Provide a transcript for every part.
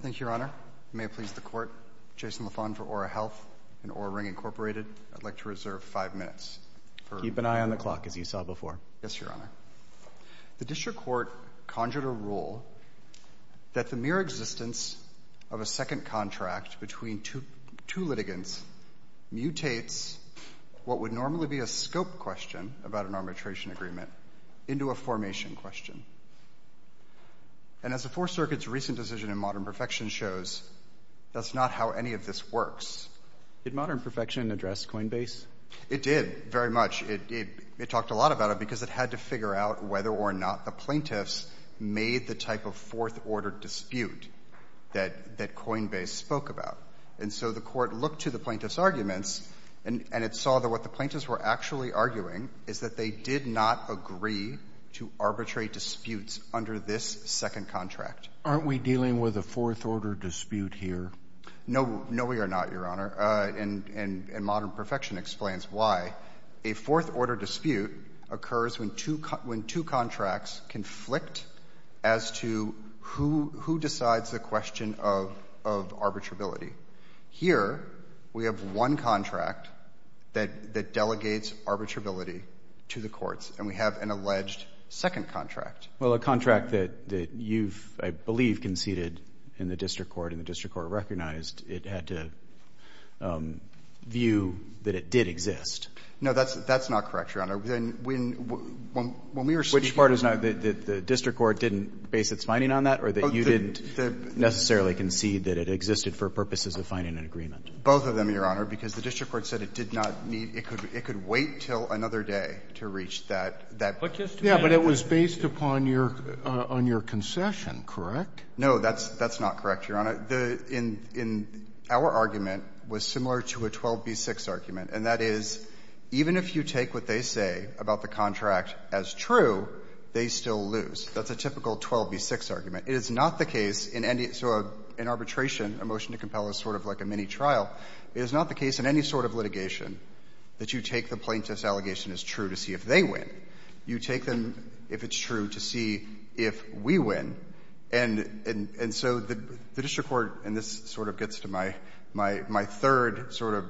Thank you, Your Honor. May it please the Court, Jason LaFawn for Oura Health and Oura Ring, Inc., I'd like to reserve five minutes. Keep an eye on the clock, as you saw before. Yes, Your Honor. The District Court conjured a rule that the mere existence of a second contract between two litigants mutates what would normally be a scope question about an arbitration agreement into a formation question. And as the Fourth Circuit's recent decision in Modern Perfection shows, that's not how any of this works. Did Modern Perfection address Coinbase? It did, very much. It talked a lot about it because it had to figure out whether or not the plaintiffs made the type of fourth-order dispute that Coinbase spoke about. And so the Court looked to the plaintiffs' arguments, and it saw that what the plaintiffs were actually arguing is that they did not agree to arbitrary disputes under this second contract. Aren't we dealing with a fourth-order dispute here? No, we are not, Your Honor. And Modern Perfection explains why. A fourth-order dispute occurs when two contracts conflict as to who decides the question of arbitrability. Here, we have one contract that delegates arbitrability to the courts, and we have an alleged second contract. Well, a contract that you've, I believe, conceded in the district court, and the district court recognized it had to view that it did exist. No, that's not correct, Your Honor. When we were speaking on that ---- Which part is not? That the district court didn't base its finding on that, or that you didn't necessarily concede that it existed for purposes of finding an agreement? Both of them, Your Honor, because the district court said it did not need to. It could wait until another day to reach that point. Yeah, but it was based upon your concession, correct? No, that's not correct, Your Honor. Our argument was similar to a 12b-6 argument, and that is even if you take what they say about the contract as true, they still lose. That's a typical 12b-6 argument. It is not the case in any ---- so in arbitration, a motion to compel is sort of like a mini-trial. It is not the case in any sort of litigation that you take the plaintiff's allegation as true to see if they win. You take them, if it's true, to see if we win. And so the district court, and this sort of gets to my third sort of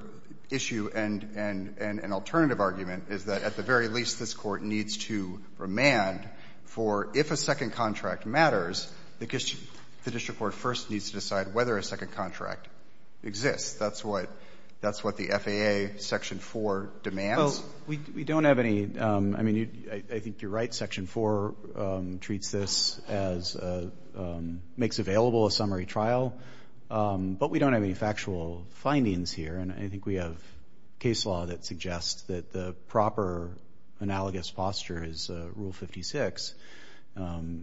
issue and alternative argument, is that at the very least this Court needs to remand for if a second contract matters, the district court first needs to decide whether a second contract exists. That's what the FAA Section 4 demands. Well, we don't have any ---- I mean, I think you're right. Section 4 treats this as a ---- makes available a summary trial. But we don't have any factual findings here, and I think we have case law that suggests that the proper analogous posture is Rule 56,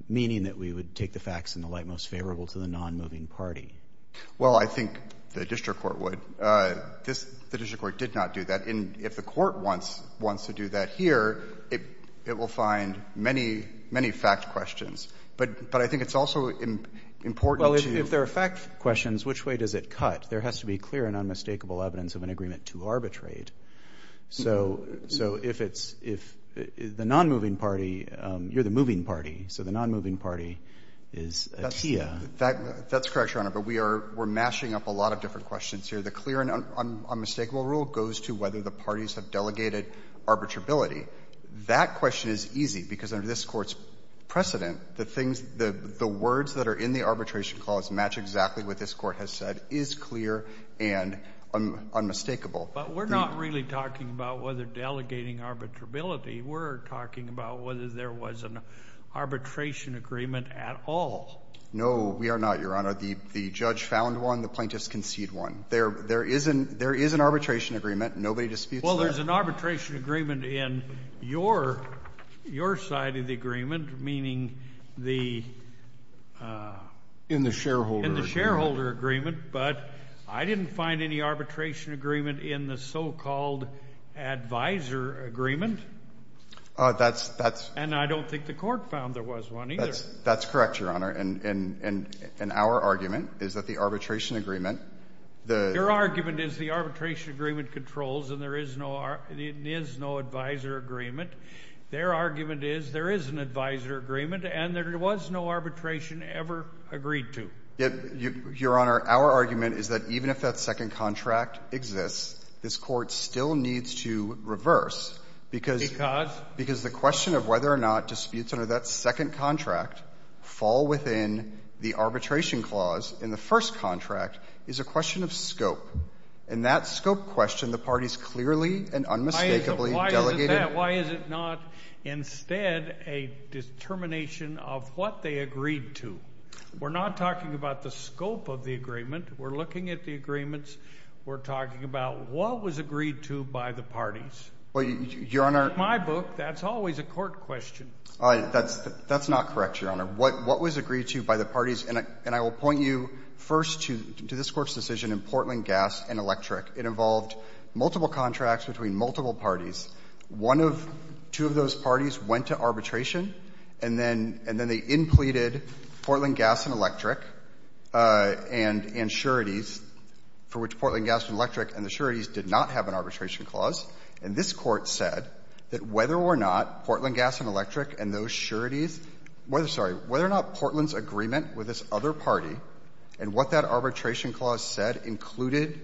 meaning that we would take the facts in the light most favorable to the nonmoving party. Well, I think the district court would. The district court did not do that. And if the Court wants to do that here, it will find many, many fact questions. But I think it's also important to ---- Well, if there are fact questions, which way does it cut? There has to be clear and unmistakable evidence of an agreement to arbitrate. So if it's the nonmoving party, you're the moving party, so the nonmoving party is a TIA. That's correct, Your Honor. But we are mashing up a lot of different questions here. The clear and unmistakable rule goes to whether the parties have delegated arbitrability. That question is easy, because under this Court's precedent, the things, the words that are in the arbitration clause match exactly what this Court has said is clear and unmistakable. But we're not really talking about whether delegating arbitrability. We're talking about whether there was an arbitration agreement at all. No, we are not, Your Honor. The judge found one. The plaintiffs conceded one. There is an arbitration agreement. Nobody disputes that. Well, there's an arbitration agreement in your side of the agreement, meaning the ---- In the shareholder agreement. In the shareholder agreement. But I didn't find any arbitration agreement in the so-called advisor agreement. That's ---- And I don't think the Court found there was one either. That's correct, Your Honor. And our argument is that the arbitration agreement, the ---- Your argument is the arbitration agreement controls, and there is no advisor agreement. Their argument is there is an advisor agreement, and there was no arbitration ever agreed to. Your Honor, our argument is that even if that second contract exists, this Court still needs to reverse, because ---- Because? Because the question of whether or not disputes under that second contract fall within the arbitration clause in the first contract is a question of scope. In that scope question, the parties clearly and unmistakably delegated ---- Why is it that? Why is it not instead a determination of what they agreed to? We're not talking about the scope of the agreement. We're looking at the agreements. We're talking about what was agreed to by the parties. Well, Your Honor ---- Well, in my book, that's always a court question. That's not correct, Your Honor. What was agreed to by the parties, and I will point you first to this Court's decision in Portland Gas and Electric. It involved multiple contracts between multiple parties. One of ---- two of those parties went to arbitration, and then they inpleted Portland Gas and Electric and sureties, for which Portland Gas and Electric and the sureties did not have an arbitration clause. And this Court said that whether or not Portland Gas and Electric and those sureties ---- sorry, whether or not Portland's agreement with this other party and what that arbitration clause said included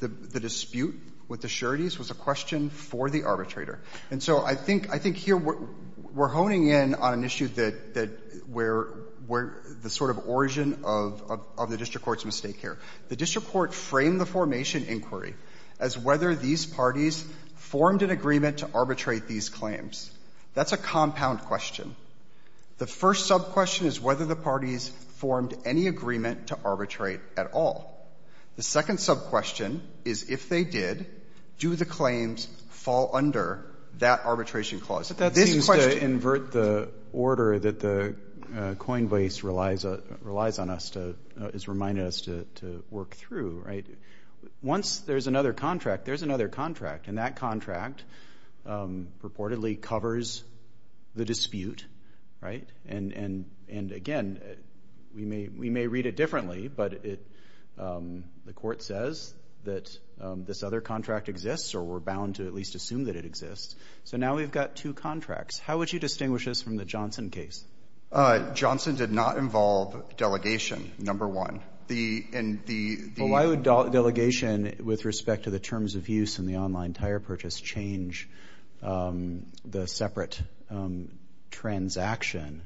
the dispute with the sureties was a question for the arbitrator. And so I think here we're honing in on an issue that where the sort of origin of the district court's mistake here. The district court framed the formation inquiry as whether these parties formed an agreement to arbitrate these claims. That's a compound question. The first sub-question is whether the parties formed any agreement to arbitrate at all. The second sub-question is if they did, do the claims fall under that arbitration clause. This question ---- But that seems to invert the order that the Coinbase relies on us to ---- has reminded us to work through, right? Once there's another contract, there's another contract. And that contract reportedly covers the dispute, right? And again, we may read it differently, but the Court says that this other contract exists or we're bound to at least assume that it exists. So now we've got two contracts. How would you distinguish this from the Johnson case? Johnson did not involve delegation, number one. And the ---- Well, why would delegation with respect to the terms of use and the online tire purchase change the separate transaction?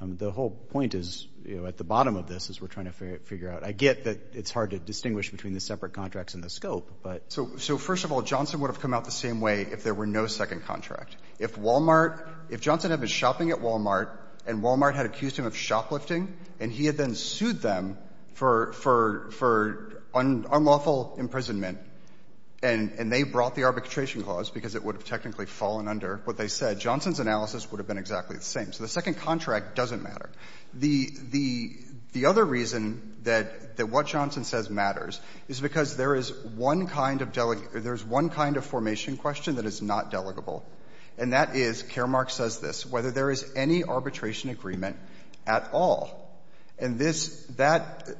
The whole point is, you know, at the bottom of this as we're trying to figure out. I get that it's hard to distinguish between the separate contracts and the scope, but ---- So first of all, Johnson would have come out the same way if there were no second contract. If Walmart ---- if Johnson had been shopping at Walmart and Walmart had accused him of shoplifting and he had then sued them for unlawful imprisonment and they brought the arbitration clause because it would have technically fallen under what they said, Johnson's analysis would have been exactly the same. So the second contract doesn't matter. The other reason that what Johnson says matters is because there is one kind of delegation or there is one kind of formation question that is not delegable. And that is, Karamark says this, whether there is any arbitration agreement at all. And this ----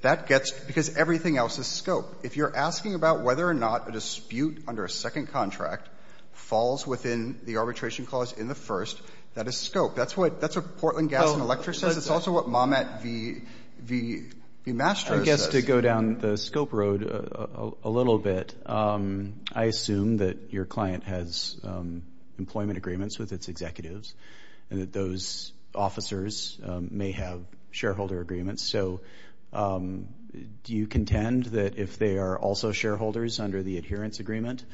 that gets ---- because everything else is scope. If you're asking about whether or not a dispute under a second contract falls within the arbitration clause in the first, that is scope. That's what Portland Gas and Electric says. It's also what Mamet v. Masters says. So just to go down the scope road a little bit, I assume that your client has employment agreements with its executives and that those officers may have shareholder agreements. So do you contend that if they are also shareholders under the adherence agreement,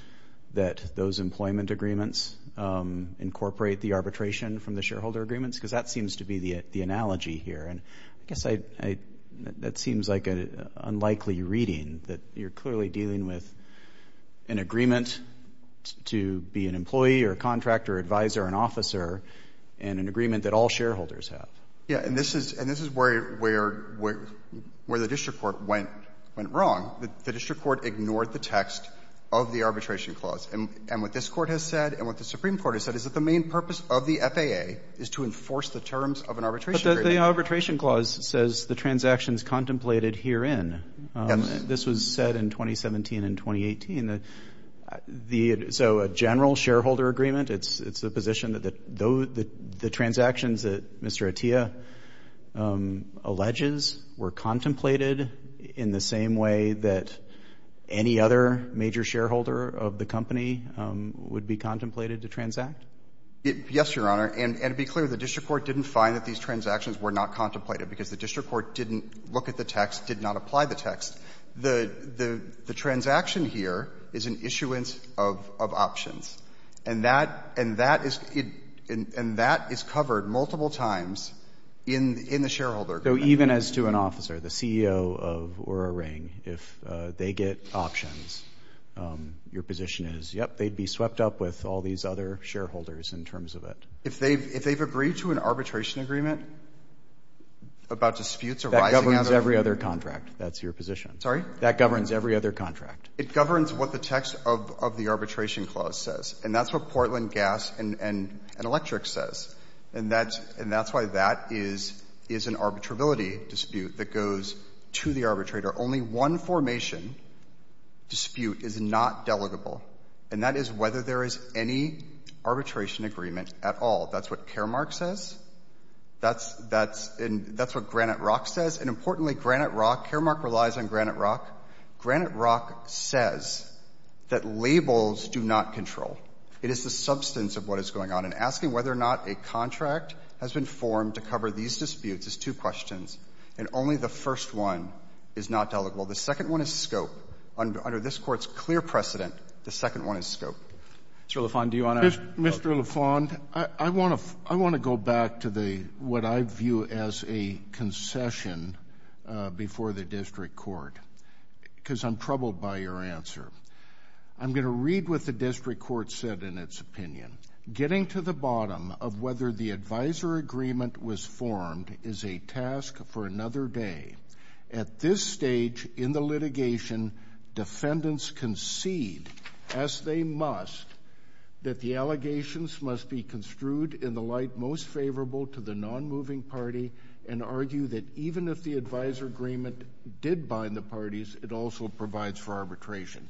that those employment agreements incorporate the arbitration from the shareholder agreements? Because that seems to be the analogy here. And I guess I ---- that seems like an unlikely reading that you're clearly dealing with an agreement to be an employee or a contractor, advisor, an officer, and an agreement that all shareholders have. Yeah. And this is where the district court went wrong. The district court ignored the text of the arbitration clause. And what this court has said and what the Supreme Court has said is that the main purpose of the FAA is to enforce the terms of an arbitration agreement. But the arbitration clause says the transactions contemplated herein. Yes. This was said in 2017 and 2018. So a general shareholder agreement, it's the position that the transactions that Mr. Atiyah alleges were contemplated in the same way that any other major shareholder of the company would be contemplated to transact? Yes, Your Honor. And to be clear, the district court didn't find that these transactions were not contemplated because the district court didn't look at the text, did not apply the text. The transaction here is an issuance of options. And that is covered multiple times in the shareholder agreement. So even as to an officer, the CEO of Oura Ring, if they get options, your position is, yep, they'd be swept up with all these other shareholders in terms of it. If they've agreed to an arbitration agreement about disputes arising out of it? That governs every other contract. That's your position. Sorry? That governs every other contract. It governs what the text of the arbitration clause says. And that's what Portland Gas and Electric says. And that's why that is an arbitrability dispute that goes to the arbitrator. Only one formation dispute is not delegable. And that is whether there is any arbitration agreement at all. That's what Caremark says. That's what Granite Rock says. And importantly, Granite Rock, Caremark relies on Granite Rock. Granite Rock says that labels do not control. It is the substance of what is going on. And asking whether or not a contract has been formed to cover these disputes is two questions. And only the first one is not delegable. The second one is scope. Under this Court's clear precedent, the second one is scope. Mr. LaFond, do you want to? Mr. LaFond, I want to go back to what I view as a concession before the district court, because I'm troubled by your answer. I'm going to read what the district court said in its opinion. Getting to the bottom of whether the advisor agreement was formed is a task for another day. At this stage in the litigation, defendants concede, as they must, that the allegations must be construed in the light most favorable to the nonmoving party and argue that even if the advisor agreement did bind the parties, it also provides for arbitration.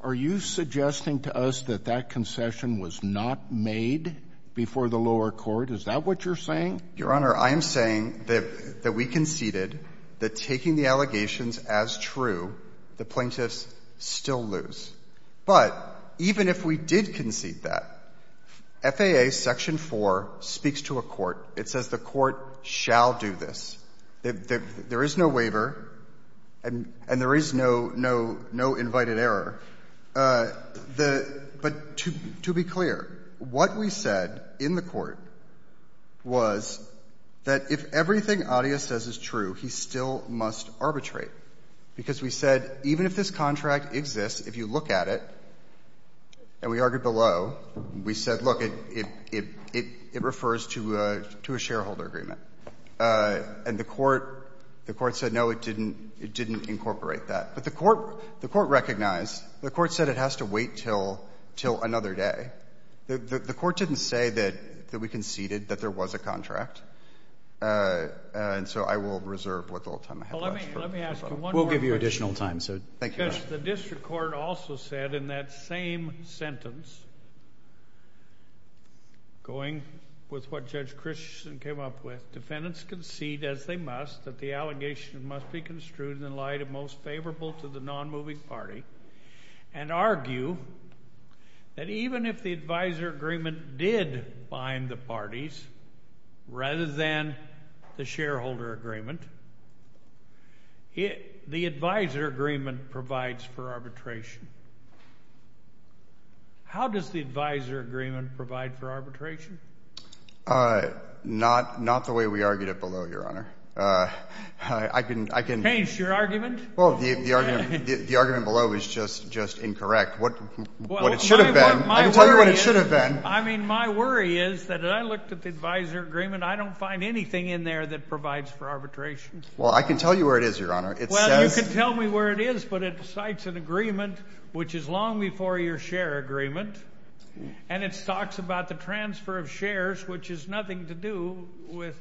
Are you suggesting to us that that concession was not made before the lower court? Is that what you're saying? Your Honor, I am saying that we conceded that taking the allegations as true, the plaintiffs still lose. But even if we did concede that, FAA Section 4 speaks to a court. It says the court shall do this. There is no waiver and there is no invited error. But to be clear, what we said in the court was that if everything Adia says is true, he still must arbitrate, because we said even if this contract exists, if you look at it, and we argued below, we said, look, it refers to a shareholder agreement. And the court said, no, it didn't incorporate that. But the court recognized. The court said it has to wait until another day. The court didn't say that we conceded that there was a contract. And so I will reserve what little time I have left. Well, let me ask you one more question. We'll give you additional time. Thank you, Your Honor. Because the district court also said in that same sentence, going with what Judge Christensen came up with, defendants concede, as they must, that the allegation must be construed in light of most favorable to the nonmoving party, and argue that even if the advisor agreement did bind the parties rather than the shareholder agreement, the advisor agreement provides for arbitration. How does the advisor agreement provide for arbitration? Not the way we argued it below, Your Honor. I can... Change your argument? Well, the argument below is just incorrect. What it should have been. I can tell you what it should have been. I mean, my worry is that I looked at the advisor agreement. I don't find anything in there that provides for arbitration. Well, I can tell you where it is, Your Honor. It says... Well, you can tell me where it is, but it cites an agreement, which is long before your share agreement, and it talks about the transfer of shares, which has nothing to do with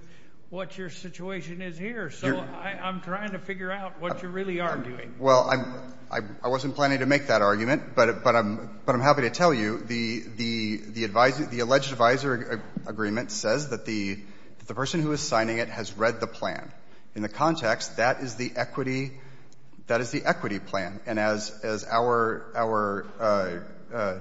what your situation is here. So I'm trying to figure out what you really are doing. Well, I wasn't planning to make that argument, but I'm happy to tell you the alleged advisor agreement says that the person who is signing it has read the plan. In the context, that is the equity plan. And as our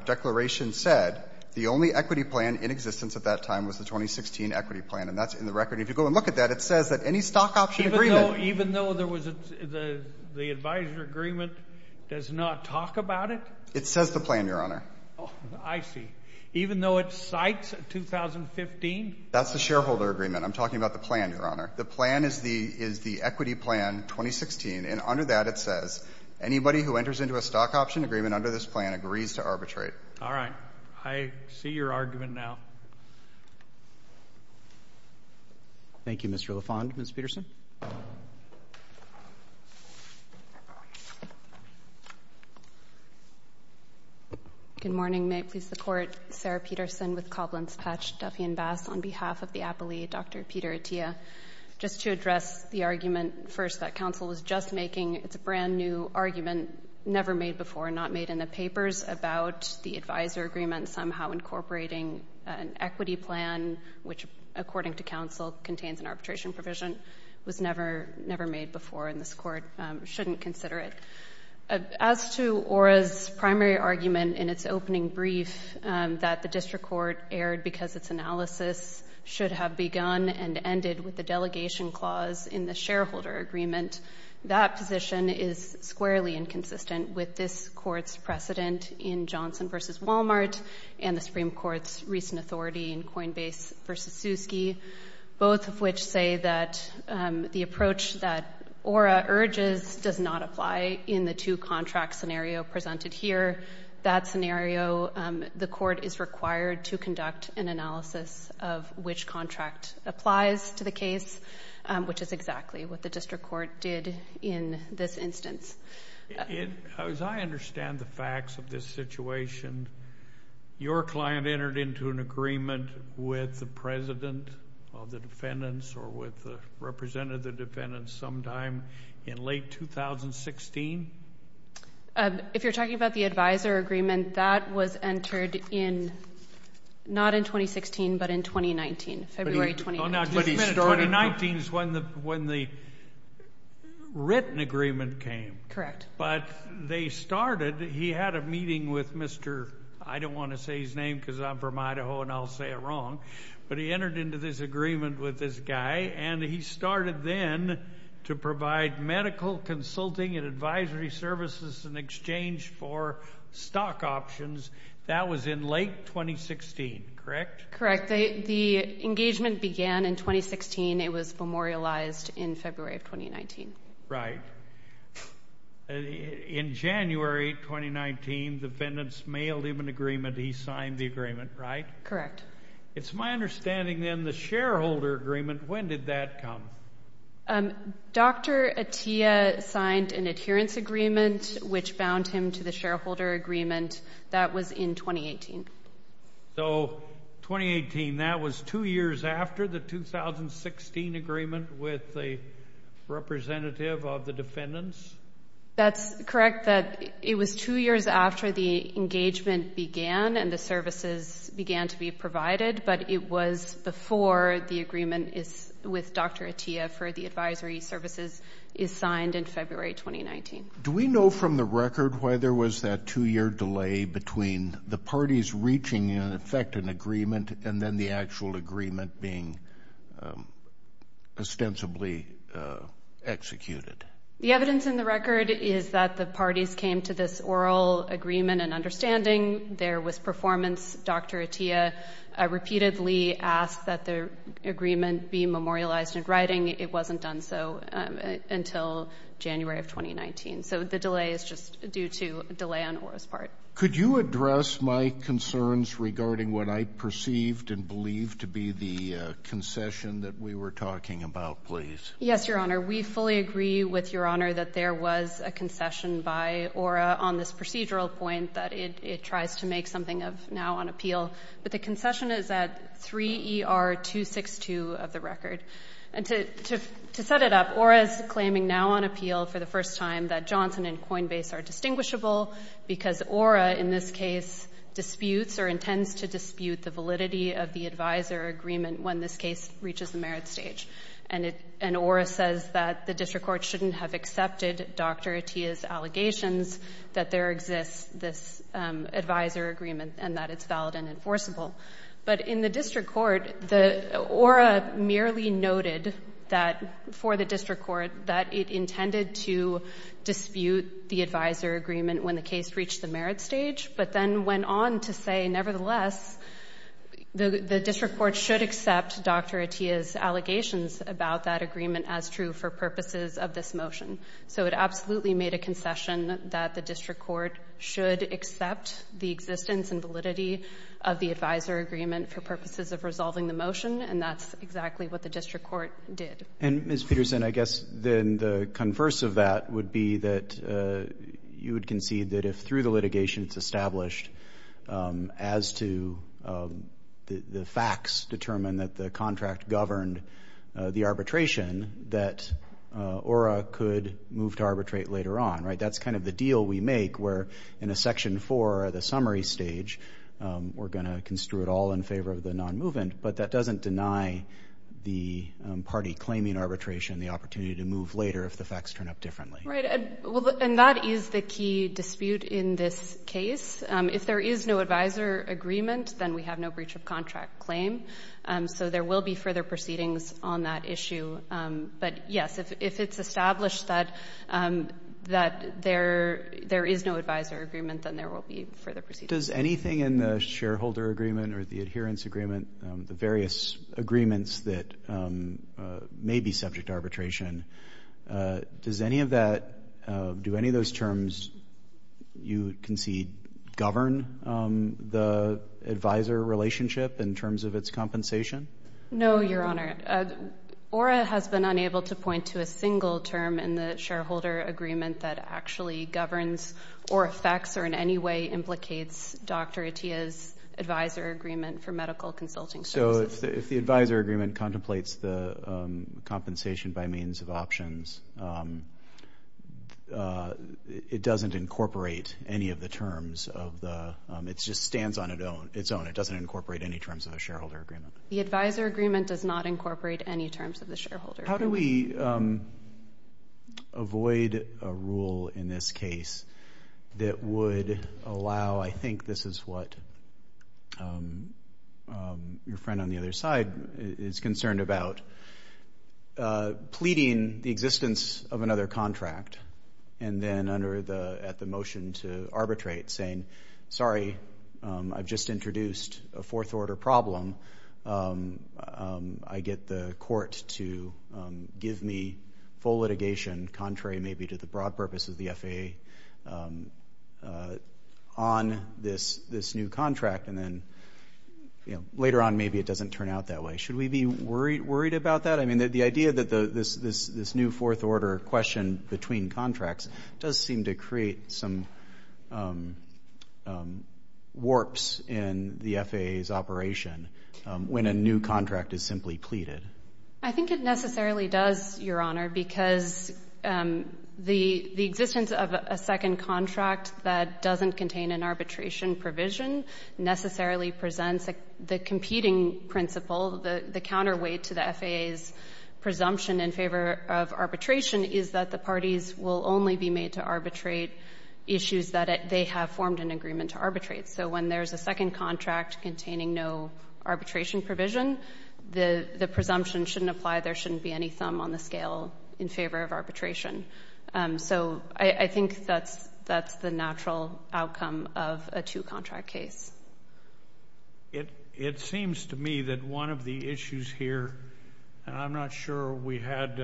declaration said, the only equity plan in existence at that time was the 2016 equity plan, and that's in the record. If you go and look at that, it says that any stock option agreement... Even though there was a... The advisor agreement does not talk about it? It says the plan, Your Honor. Oh, I see. Even though it cites 2015? That's the shareholder agreement. I'm talking about the plan, Your Honor. The plan is the equity plan, 2016, and under that it says anybody who enters into a stock option agreement under this plan agrees to arbitrate. All right. I see your argument now. Thank you, Mr. LaFond. Ms. Peterson. Good morning. May it please the Court, Sarah Peterson with Cobblins Patch, Duffy & Bass, on behalf of the appellee, Dr. Peter Attia. Just to address the argument, first, that counsel was just making. It's a brand-new argument, never made before, not made in the papers, about the advisor agreement somehow incorporating an equity plan, which according to counsel contains an arbitration provision. It was never made before, and this Court shouldn't consider it. As to ORA's primary argument in its opening brief, that the district court erred because its analysis should have begun and ended with the delegation clause in the shareholder agreement, that position is squarely inconsistent with this court's precedent in Johnson v. Wal-Mart and the Supreme Court's recent authority in Coinbase v. Soosky, both of which say that the approach that ORA urges does not apply in the two-contract scenario presented here. That scenario, the court is required to conduct an analysis of which contract applies to the case, which is exactly what the district court did in this instance. As I understand the facts of this situation, your client entered into an agreement with the president of the defendants or represented the defendants sometime in late 2016? If you're talking about the advisor agreement, that was entered not in 2016, but in 2019, February 2019. 2019 is when the written agreement came. Correct. But they started, he had a meeting with Mr. I don't want to say his name because I'm from Idaho and I'll say it wrong, but he entered into this agreement with this guy, and he started then to provide medical consulting and advisory services in exchange for stock options. That was in late 2016, correct? Correct. The engagement began in 2016. It was memorialized in February of 2019. Right. In January 2019, defendants mailed him an agreement. He signed the agreement, right? Correct. It's my understanding then the shareholder agreement, when did that come? Dr. Atiyah signed an adherence agreement, which bound him to the shareholder agreement. That was in 2018. So 2018, that was two years after the 2016 agreement with the representative of the defendants? That's correct. It was two years after the engagement began and the services began to be provided, but it was before the agreement with Dr. Atiyah for the advisory services is signed in February 2019. Do we know from the record why there was that two-year delay between the parties reaching, in effect, an agreement and then the actual agreement being ostensibly executed? The evidence in the record is that the parties came to this oral agreement and understanding there was performance. Dr. Atiyah repeatedly asked that the agreement be memorialized in writing. It wasn't done so until January of 2019. So the delay is just due to a delay on ORA's part. Could you address my concerns regarding what I perceived and believed to be the concession that we were talking about, please? Yes, Your Honor. We fully agree with Your Honor that there was a concession by ORA on this procedural point that it tries to make something of now on appeal. But the concession is at 3 ER 262 of the record. And to set it up, ORA is claiming now on appeal for the first time that Johnson and Coinbase are distinguishable because ORA in this case disputes or intends to dispute the validity of the advisor agreement when this case reaches the merit stage. And ORA says that the district court shouldn't have accepted Dr. Atiyah's allegations that there exists this advisor agreement and that it's valid and enforceable. But in the district court, ORA merely noted that for the district court that it intended to dispute the advisor agreement when the case reached the merit stage, but then went on to say, nevertheless, the district court should accept Dr. Atiyah's allegations about that agreement as true for purposes of this motion. So it absolutely made a concession that the district court should accept the existence and validity of the advisor agreement for purposes of resolving the motion, and that's exactly what the district court did. And, Ms. Peterson, I guess then the converse of that would be that you would concede that if through the litigation it's established as to the facts determined that the contract governed the arbitration, that ORA could move to arbitrate later on, right? That's kind of the deal we make, where in a Section 4 or the summary stage, we're going to construe it all in favor of the non-movement, but that doesn't deny the party claiming arbitration the opportunity to move later if the facts turn up differently. Right, and that is the key dispute in this case. If there is no advisor agreement, then we have no breach of contract claim, so there will be further proceedings on that issue. But, yes, if it's established that there is no advisor agreement, then there will be further proceedings. Does anything in the shareholder agreement or the adherence agreement, the various agreements that may be subject to arbitration, does any of that, do any of those terms you concede, govern the advisor relationship in terms of its compensation? No, Your Honor. ORA has been unable to point to a single term in the shareholder agreement that actually governs or affects or in any way implicates Dr. Atiyah's advisor agreement for medical consulting services. So if the advisor agreement contemplates the compensation by means of options, it doesn't incorporate any of the terms of the... It just stands on its own. It doesn't incorporate any terms of the shareholder agreement. The advisor agreement does not incorporate any terms of the shareholder agreement. How do we avoid a rule in this case that would allow... I think this is what your friend on the other side is concerned about. Pleading the existence of another contract and then at the motion to arbitrate saying, sorry, I've just introduced a fourth-order problem. I get the court to give me full litigation, contrary maybe to the broad purpose of the FAA, on this new contract, and then later on maybe it doesn't turn out that way. Should we be worried about that? I mean, the idea that this new fourth-order question between contracts does seem to create some warps in the FAA's operation when a new contract is simply pleaded. I think it necessarily does, Your Honor, because the existence of a second contract that doesn't contain an arbitration provision necessarily presents the competing principle, the counterweight to the FAA's presumption in favor of arbitration is that the parties will only be made to arbitrate issues that they have formed an agreement to arbitrate. So when there's a second contract containing no arbitration provision, the presumption shouldn't apply. There shouldn't be any thumb on the scale in favor of arbitration. So I think that's the natural outcome of a two-contract case. It seems to me that one of the issues here, and I'm not sure we had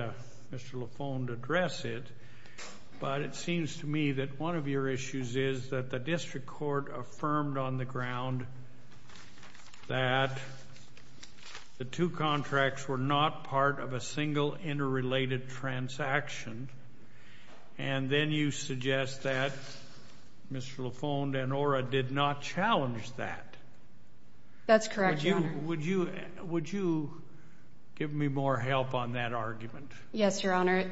Mr. Laffone to address it, but it seems to me that one of your issues is that the district court affirmed on the ground that the two contracts were not part of a single interrelated transaction, and then you suggest that Mr. Laffone and ORA did not challenge that. That's correct, Your Honor. Would you give me more help on that argument? Yes, Your Honor.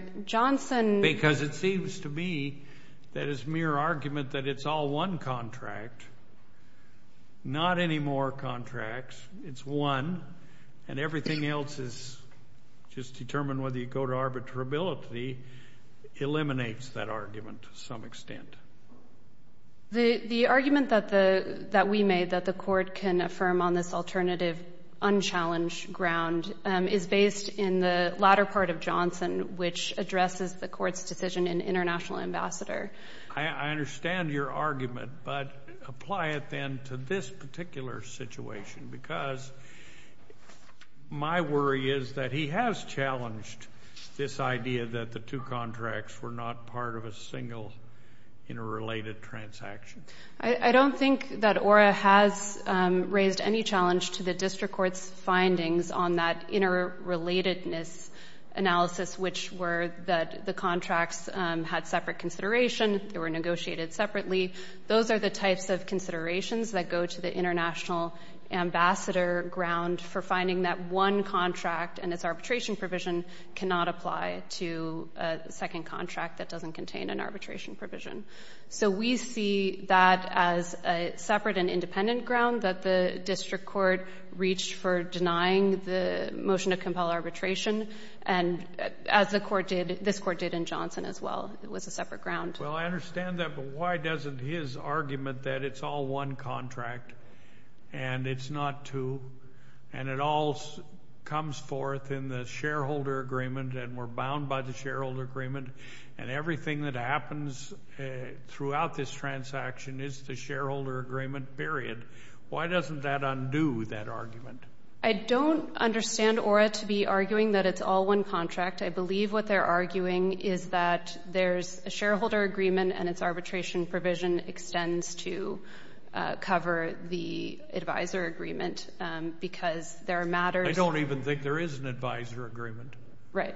Because it seems to me that it's mere argument that it's all one contract, not any more contracts. It's one, and everything else is just determine whether you go to arbitrability eliminates that argument to some extent. The argument that we made that the court can affirm on this alternative unchallenged ground is based in the latter part of Johnson, which addresses the court's decision in International Ambassador. I understand your argument, but apply it then to this particular situation, because my worry is that he has challenged this idea that the two contracts were not part of a single interrelated transaction. I don't think that ORA has raised any challenge to the district court's findings on that interrelatedness analysis, which were that the contracts had separate consideration, they were negotiated separately. Those are the types of considerations that go to the International Ambassador ground for finding that one contract and its arbitration provision cannot apply to a second contract that doesn't contain an arbitration provision. So we see that as a separate and independent ground that the district court reached for denying the motion to compel arbitration, and as the court did, this court did in Johnson as well. It was a separate ground. Well, I understand that, but why doesn't his argument that it's all one contract and it's not two and it all comes forth in the shareholder agreement and we're bound by the shareholder agreement and everything that happens throughout this transaction is the shareholder agreement, period, why doesn't that undo that argument? I don't understand ORA to be arguing that it's all one contract. I believe what they're arguing is that there's a shareholder agreement and its arbitration provision extends to cover the advisor agreement because there are matters... I don't even think there is an advisor agreement. Right.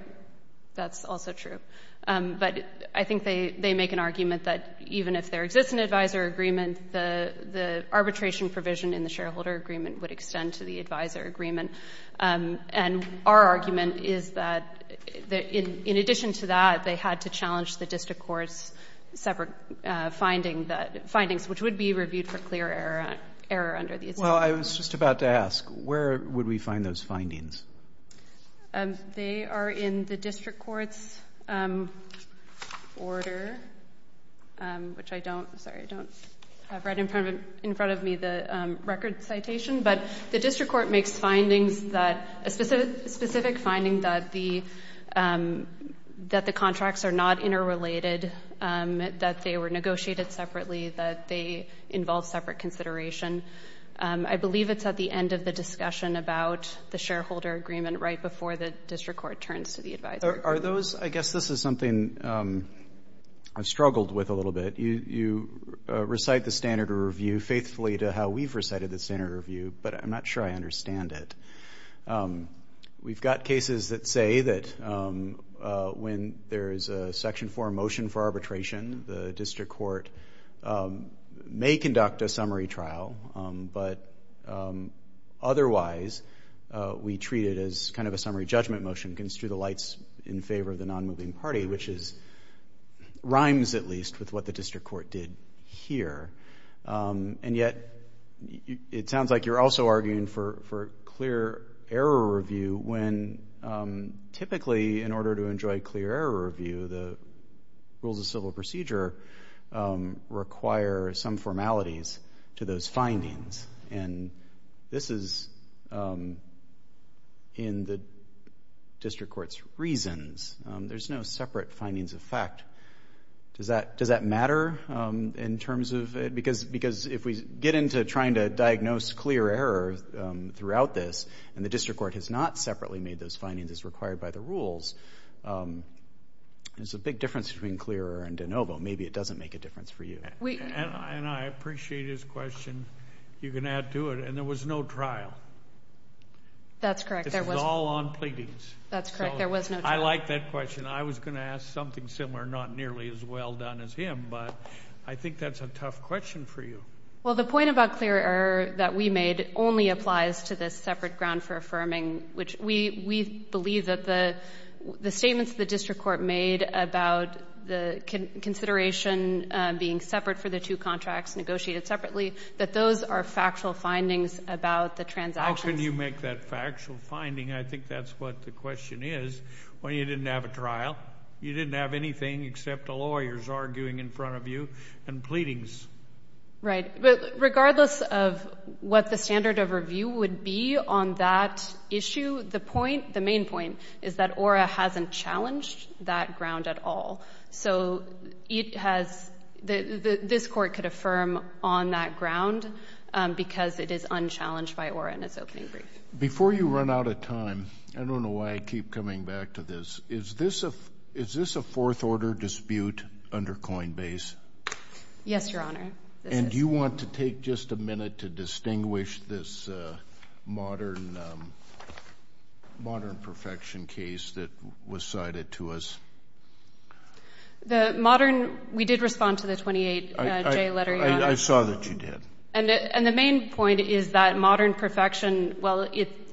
That's also true. But I think they make an argument that even if there exists an advisor agreement, the arbitration provision in the shareholder agreement would extend to the advisor agreement. And our argument is that in addition to that, they had to challenge the district court's separate findings, which would be reviewed for clear error under the... Well, I was just about to ask, where would we find those findings? They are in the district court's order, which I don't... Sorry, I don't have right in front of me the record citation, but the district court makes findings that... A specific finding that the contracts are not interrelated, that they were negotiated separately, that they involve separate consideration. I believe it's at the end of the discussion about the shareholder agreement right before the district court turns to the advisor. Are those... I guess this is something I've struggled with a little bit. You recite the standard of review faithfully to how we've recited the standard of review, but I'm not sure I understand it. We've got cases that say that when there's a section 4 motion for arbitration, the district court may conduct a summary trial, but otherwise we treat it as kind of a summary judgment motion, construe the lights in favor of the non-moving party, which rhymes at least with what the district court did here. And yet it sounds like you're also arguing for clear error review when typically in order to enjoy clear error review, the rules of civil procedure require some formalities to those findings. And this is in the district court's reasons. There's no separate findings of fact. Does that matter in terms of... Because if we get into trying to diagnose clear error throughout this, and the district court has not separately made those findings as required by the rules, there's a big difference between clear error and de novo. Maybe it doesn't make a difference for you. And I appreciate his question. You can add to it. And there was no trial. That's correct. This was all on pleadings. That's correct. There was no trial. I like that question. I was going to ask something similar, not nearly as well done as him, but I think that's a tough question for you. Well, the point about clear error that we made only applies to the separate ground for affirming, which we believe that the statements the district court made about the consideration being separate for the two contracts, negotiated separately, that those are factual findings about the transactions. How can you make that factual finding? I think that's what the question is. Well, you didn't have a trial. You didn't have anything except the lawyers arguing in front of you and pleadings. Regardless of what the standard of review would be on that issue, the point, the main point, is that ORA hasn't challenged that ground at all. So this court could affirm on that ground because it is unchallenged by ORA in its opening brief. Before you run out of time, I don't know why I keep coming back to this. Is this a Fourth Order dispute under Coinbase? Yes, Your Honor. And do you want to take just a minute to distinguish this Modern Perfection case that was cited to us? The Modern, we did respond to the 28J letter, Your Honor. I saw that you did. And the main point is that Modern Perfection, well,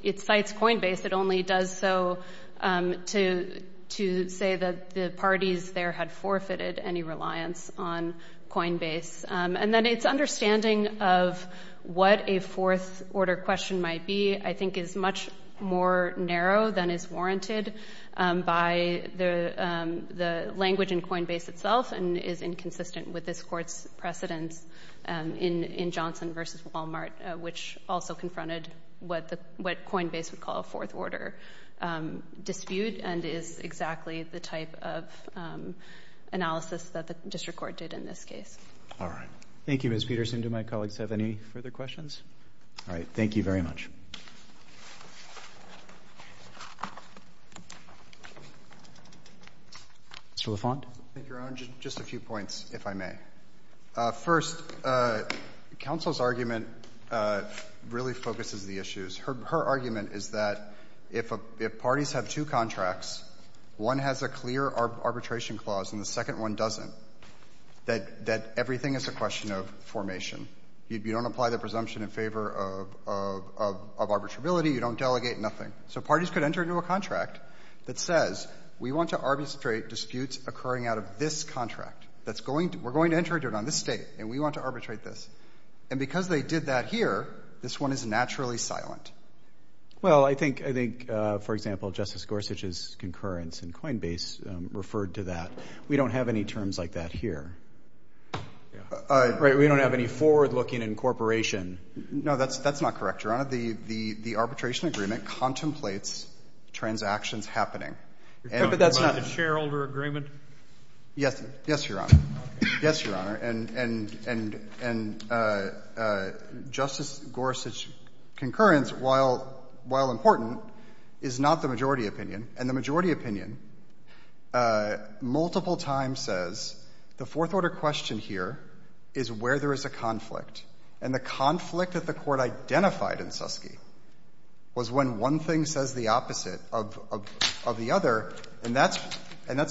it cites Coinbase. It only does so to say that the parties there had forfeited any reliance on Coinbase. And then its understanding of what a Fourth Order question might be, I think, is much more narrow than is warranted by the language in Coinbase itself and is inconsistent with this court's precedence in Johnson v. Walmart, which also confronted what Coinbase would call a Fourth Order dispute and is exactly the type of analysis that the district court did in this case. All right. Thank you, Ms. Peterson. Do my colleagues have any further questions? All right. Thank you very much. Mr. LaFont? Thank you, Your Honor. Just a few points, if I may. First, counsel's argument really focuses the issues. Her argument is that if parties have two contracts, one has a clear arbitration clause and the second one doesn't, that everything is a question of formation. You don't apply the presumption in favor of arbitrability. You don't delegate nothing. So parties could enter into a contract that says, we want to arbitrate disputes occurring out of this contract. We're going to enter into it on this date, and we want to arbitrate this. And because they did that here, this one is naturally silent. Well, I think, for example, Justice Gorsuch's concurrence in Coinbase referred to that. We don't have any terms like that here. We don't have any forward-looking incorporation. No, that's not correct, Your Honor. The arbitration agreement contemplates transactions happening. But that's not the shareholder agreement? Yes. Yes, Your Honor. Yes, Your Honor. And Justice Gorsuch's concurrence, while important, is not the majority opinion. And the majority opinion multiple times says the Fourth Order question here is where there is a conflict. And the conflict that the Court identified in Suskie was when one thing says the opposite of the other. And that's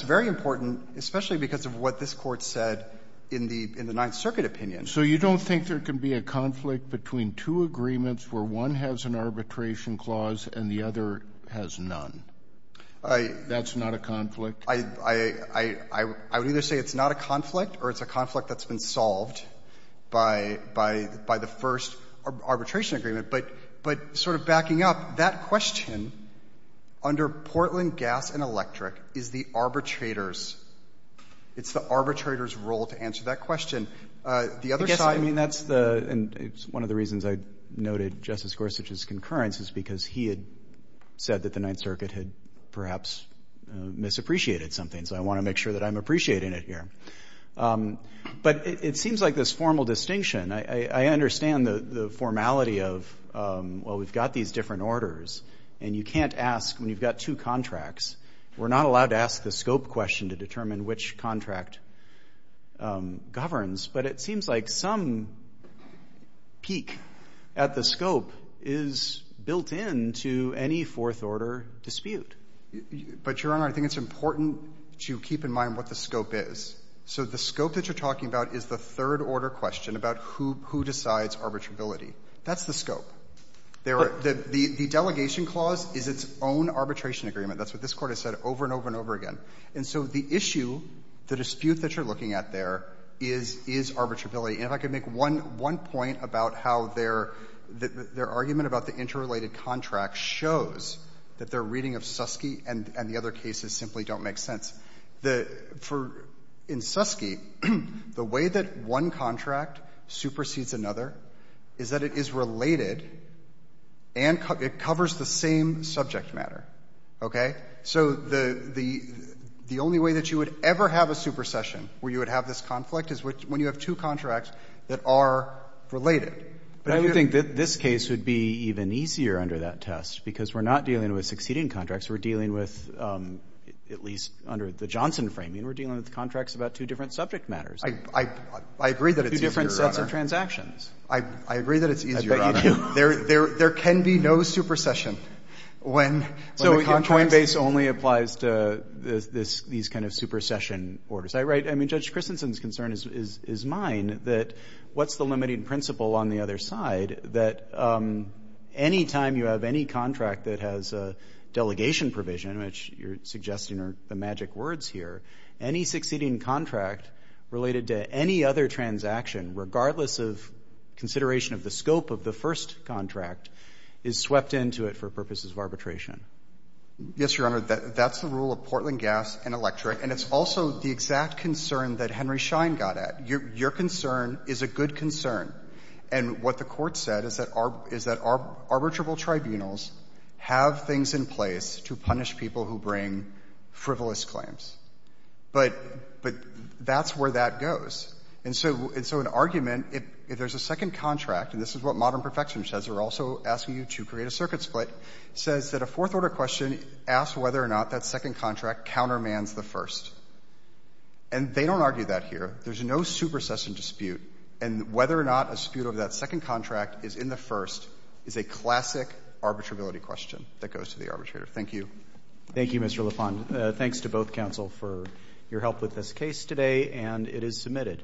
very important, especially because of what this Court said in the Ninth Circuit opinion. So you don't think there can be a conflict between two agreements where one has an arbitration clause and the other has none? That's not a conflict? I would either say it's not a conflict or it's a conflict that's been solved by the first arbitration agreement. But sort of backing up, that question under Portland Gas and Electric is the arbitrator's — it's the arbitrator's role to answer that question. The other side— I guess, I mean, that's the — and it's one of the reasons I noted Justice Gorsuch's concurrence is because he had said that the Ninth Circuit had perhaps misappreciated something. So I want to make sure that I'm appreciating it here. But it seems like this formal distinction. I understand the formality of, well, we've got these different orders, and you can't ask when you've got two contracts. We're not allowed to ask the scope question to determine which contract governs. But it seems like some peak at the scope is built into any Fourth Order dispute. But, Your Honor, I think it's important to keep in mind what the scope is. So the scope that you're talking about is the Third Order question about who decides arbitrability. That's the scope. The delegation clause is its own arbitration agreement. That's what this Court has said over and over and over again. And so the issue, the dispute that you're looking at there, is arbitrability. And if I could make one point about how their argument about the interrelated contract shows that their reading of Suskie and the other cases simply don't make sense. In Suskie, the way that one contract supersedes another is that it is related and it covers the same subject matter. Okay? So the only way that you would ever have a supersession where you would have this conflict is when you have two contracts that are related. But I do think that this case would be even easier under that test because we're not dealing with succeeding contracts. We're dealing with, at least under the Johnson framing, we're dealing with contracts about two different subject matters. I agree that it's easier, Your Honor. Two different sets of transactions. I agree that it's easier, Your Honor. I bet you do. There can be no supersession when the contracts — So Coinbase only applies to these kind of supersession orders. I mean, Judge Christensen's concern is mine, that what's the limiting principle on the other side, that any time you have any contract that has a delegation provision, which you're suggesting are the magic words here, any succeeding contract related to any other transaction, regardless of consideration of the scope of the first contract, is swept into it for purposes of arbitration. Yes, Your Honor. That's the rule of Portland Gas and Electric. And it's also the exact concern that Henry Schein got at. Your concern is a good concern. And what the Court said is that arbitrable tribunals have things in place to punish people who bring frivolous claims. But that's where that goes. And so an argument, if there's a second contract, and this is what Modern Perfection says, they're also asking you to create a circuit split, says that a Fourth Order question asks whether or not that second contract countermands the first. And they don't argue that here. There's no supersession dispute. And whether or not a dispute over that second contract is in the first is a classic arbitrability question that goes to the arbitrator. Thank you. Thank you, Mr. LaFond. Thanks to both counsel for your help with this case today. And it is submitted.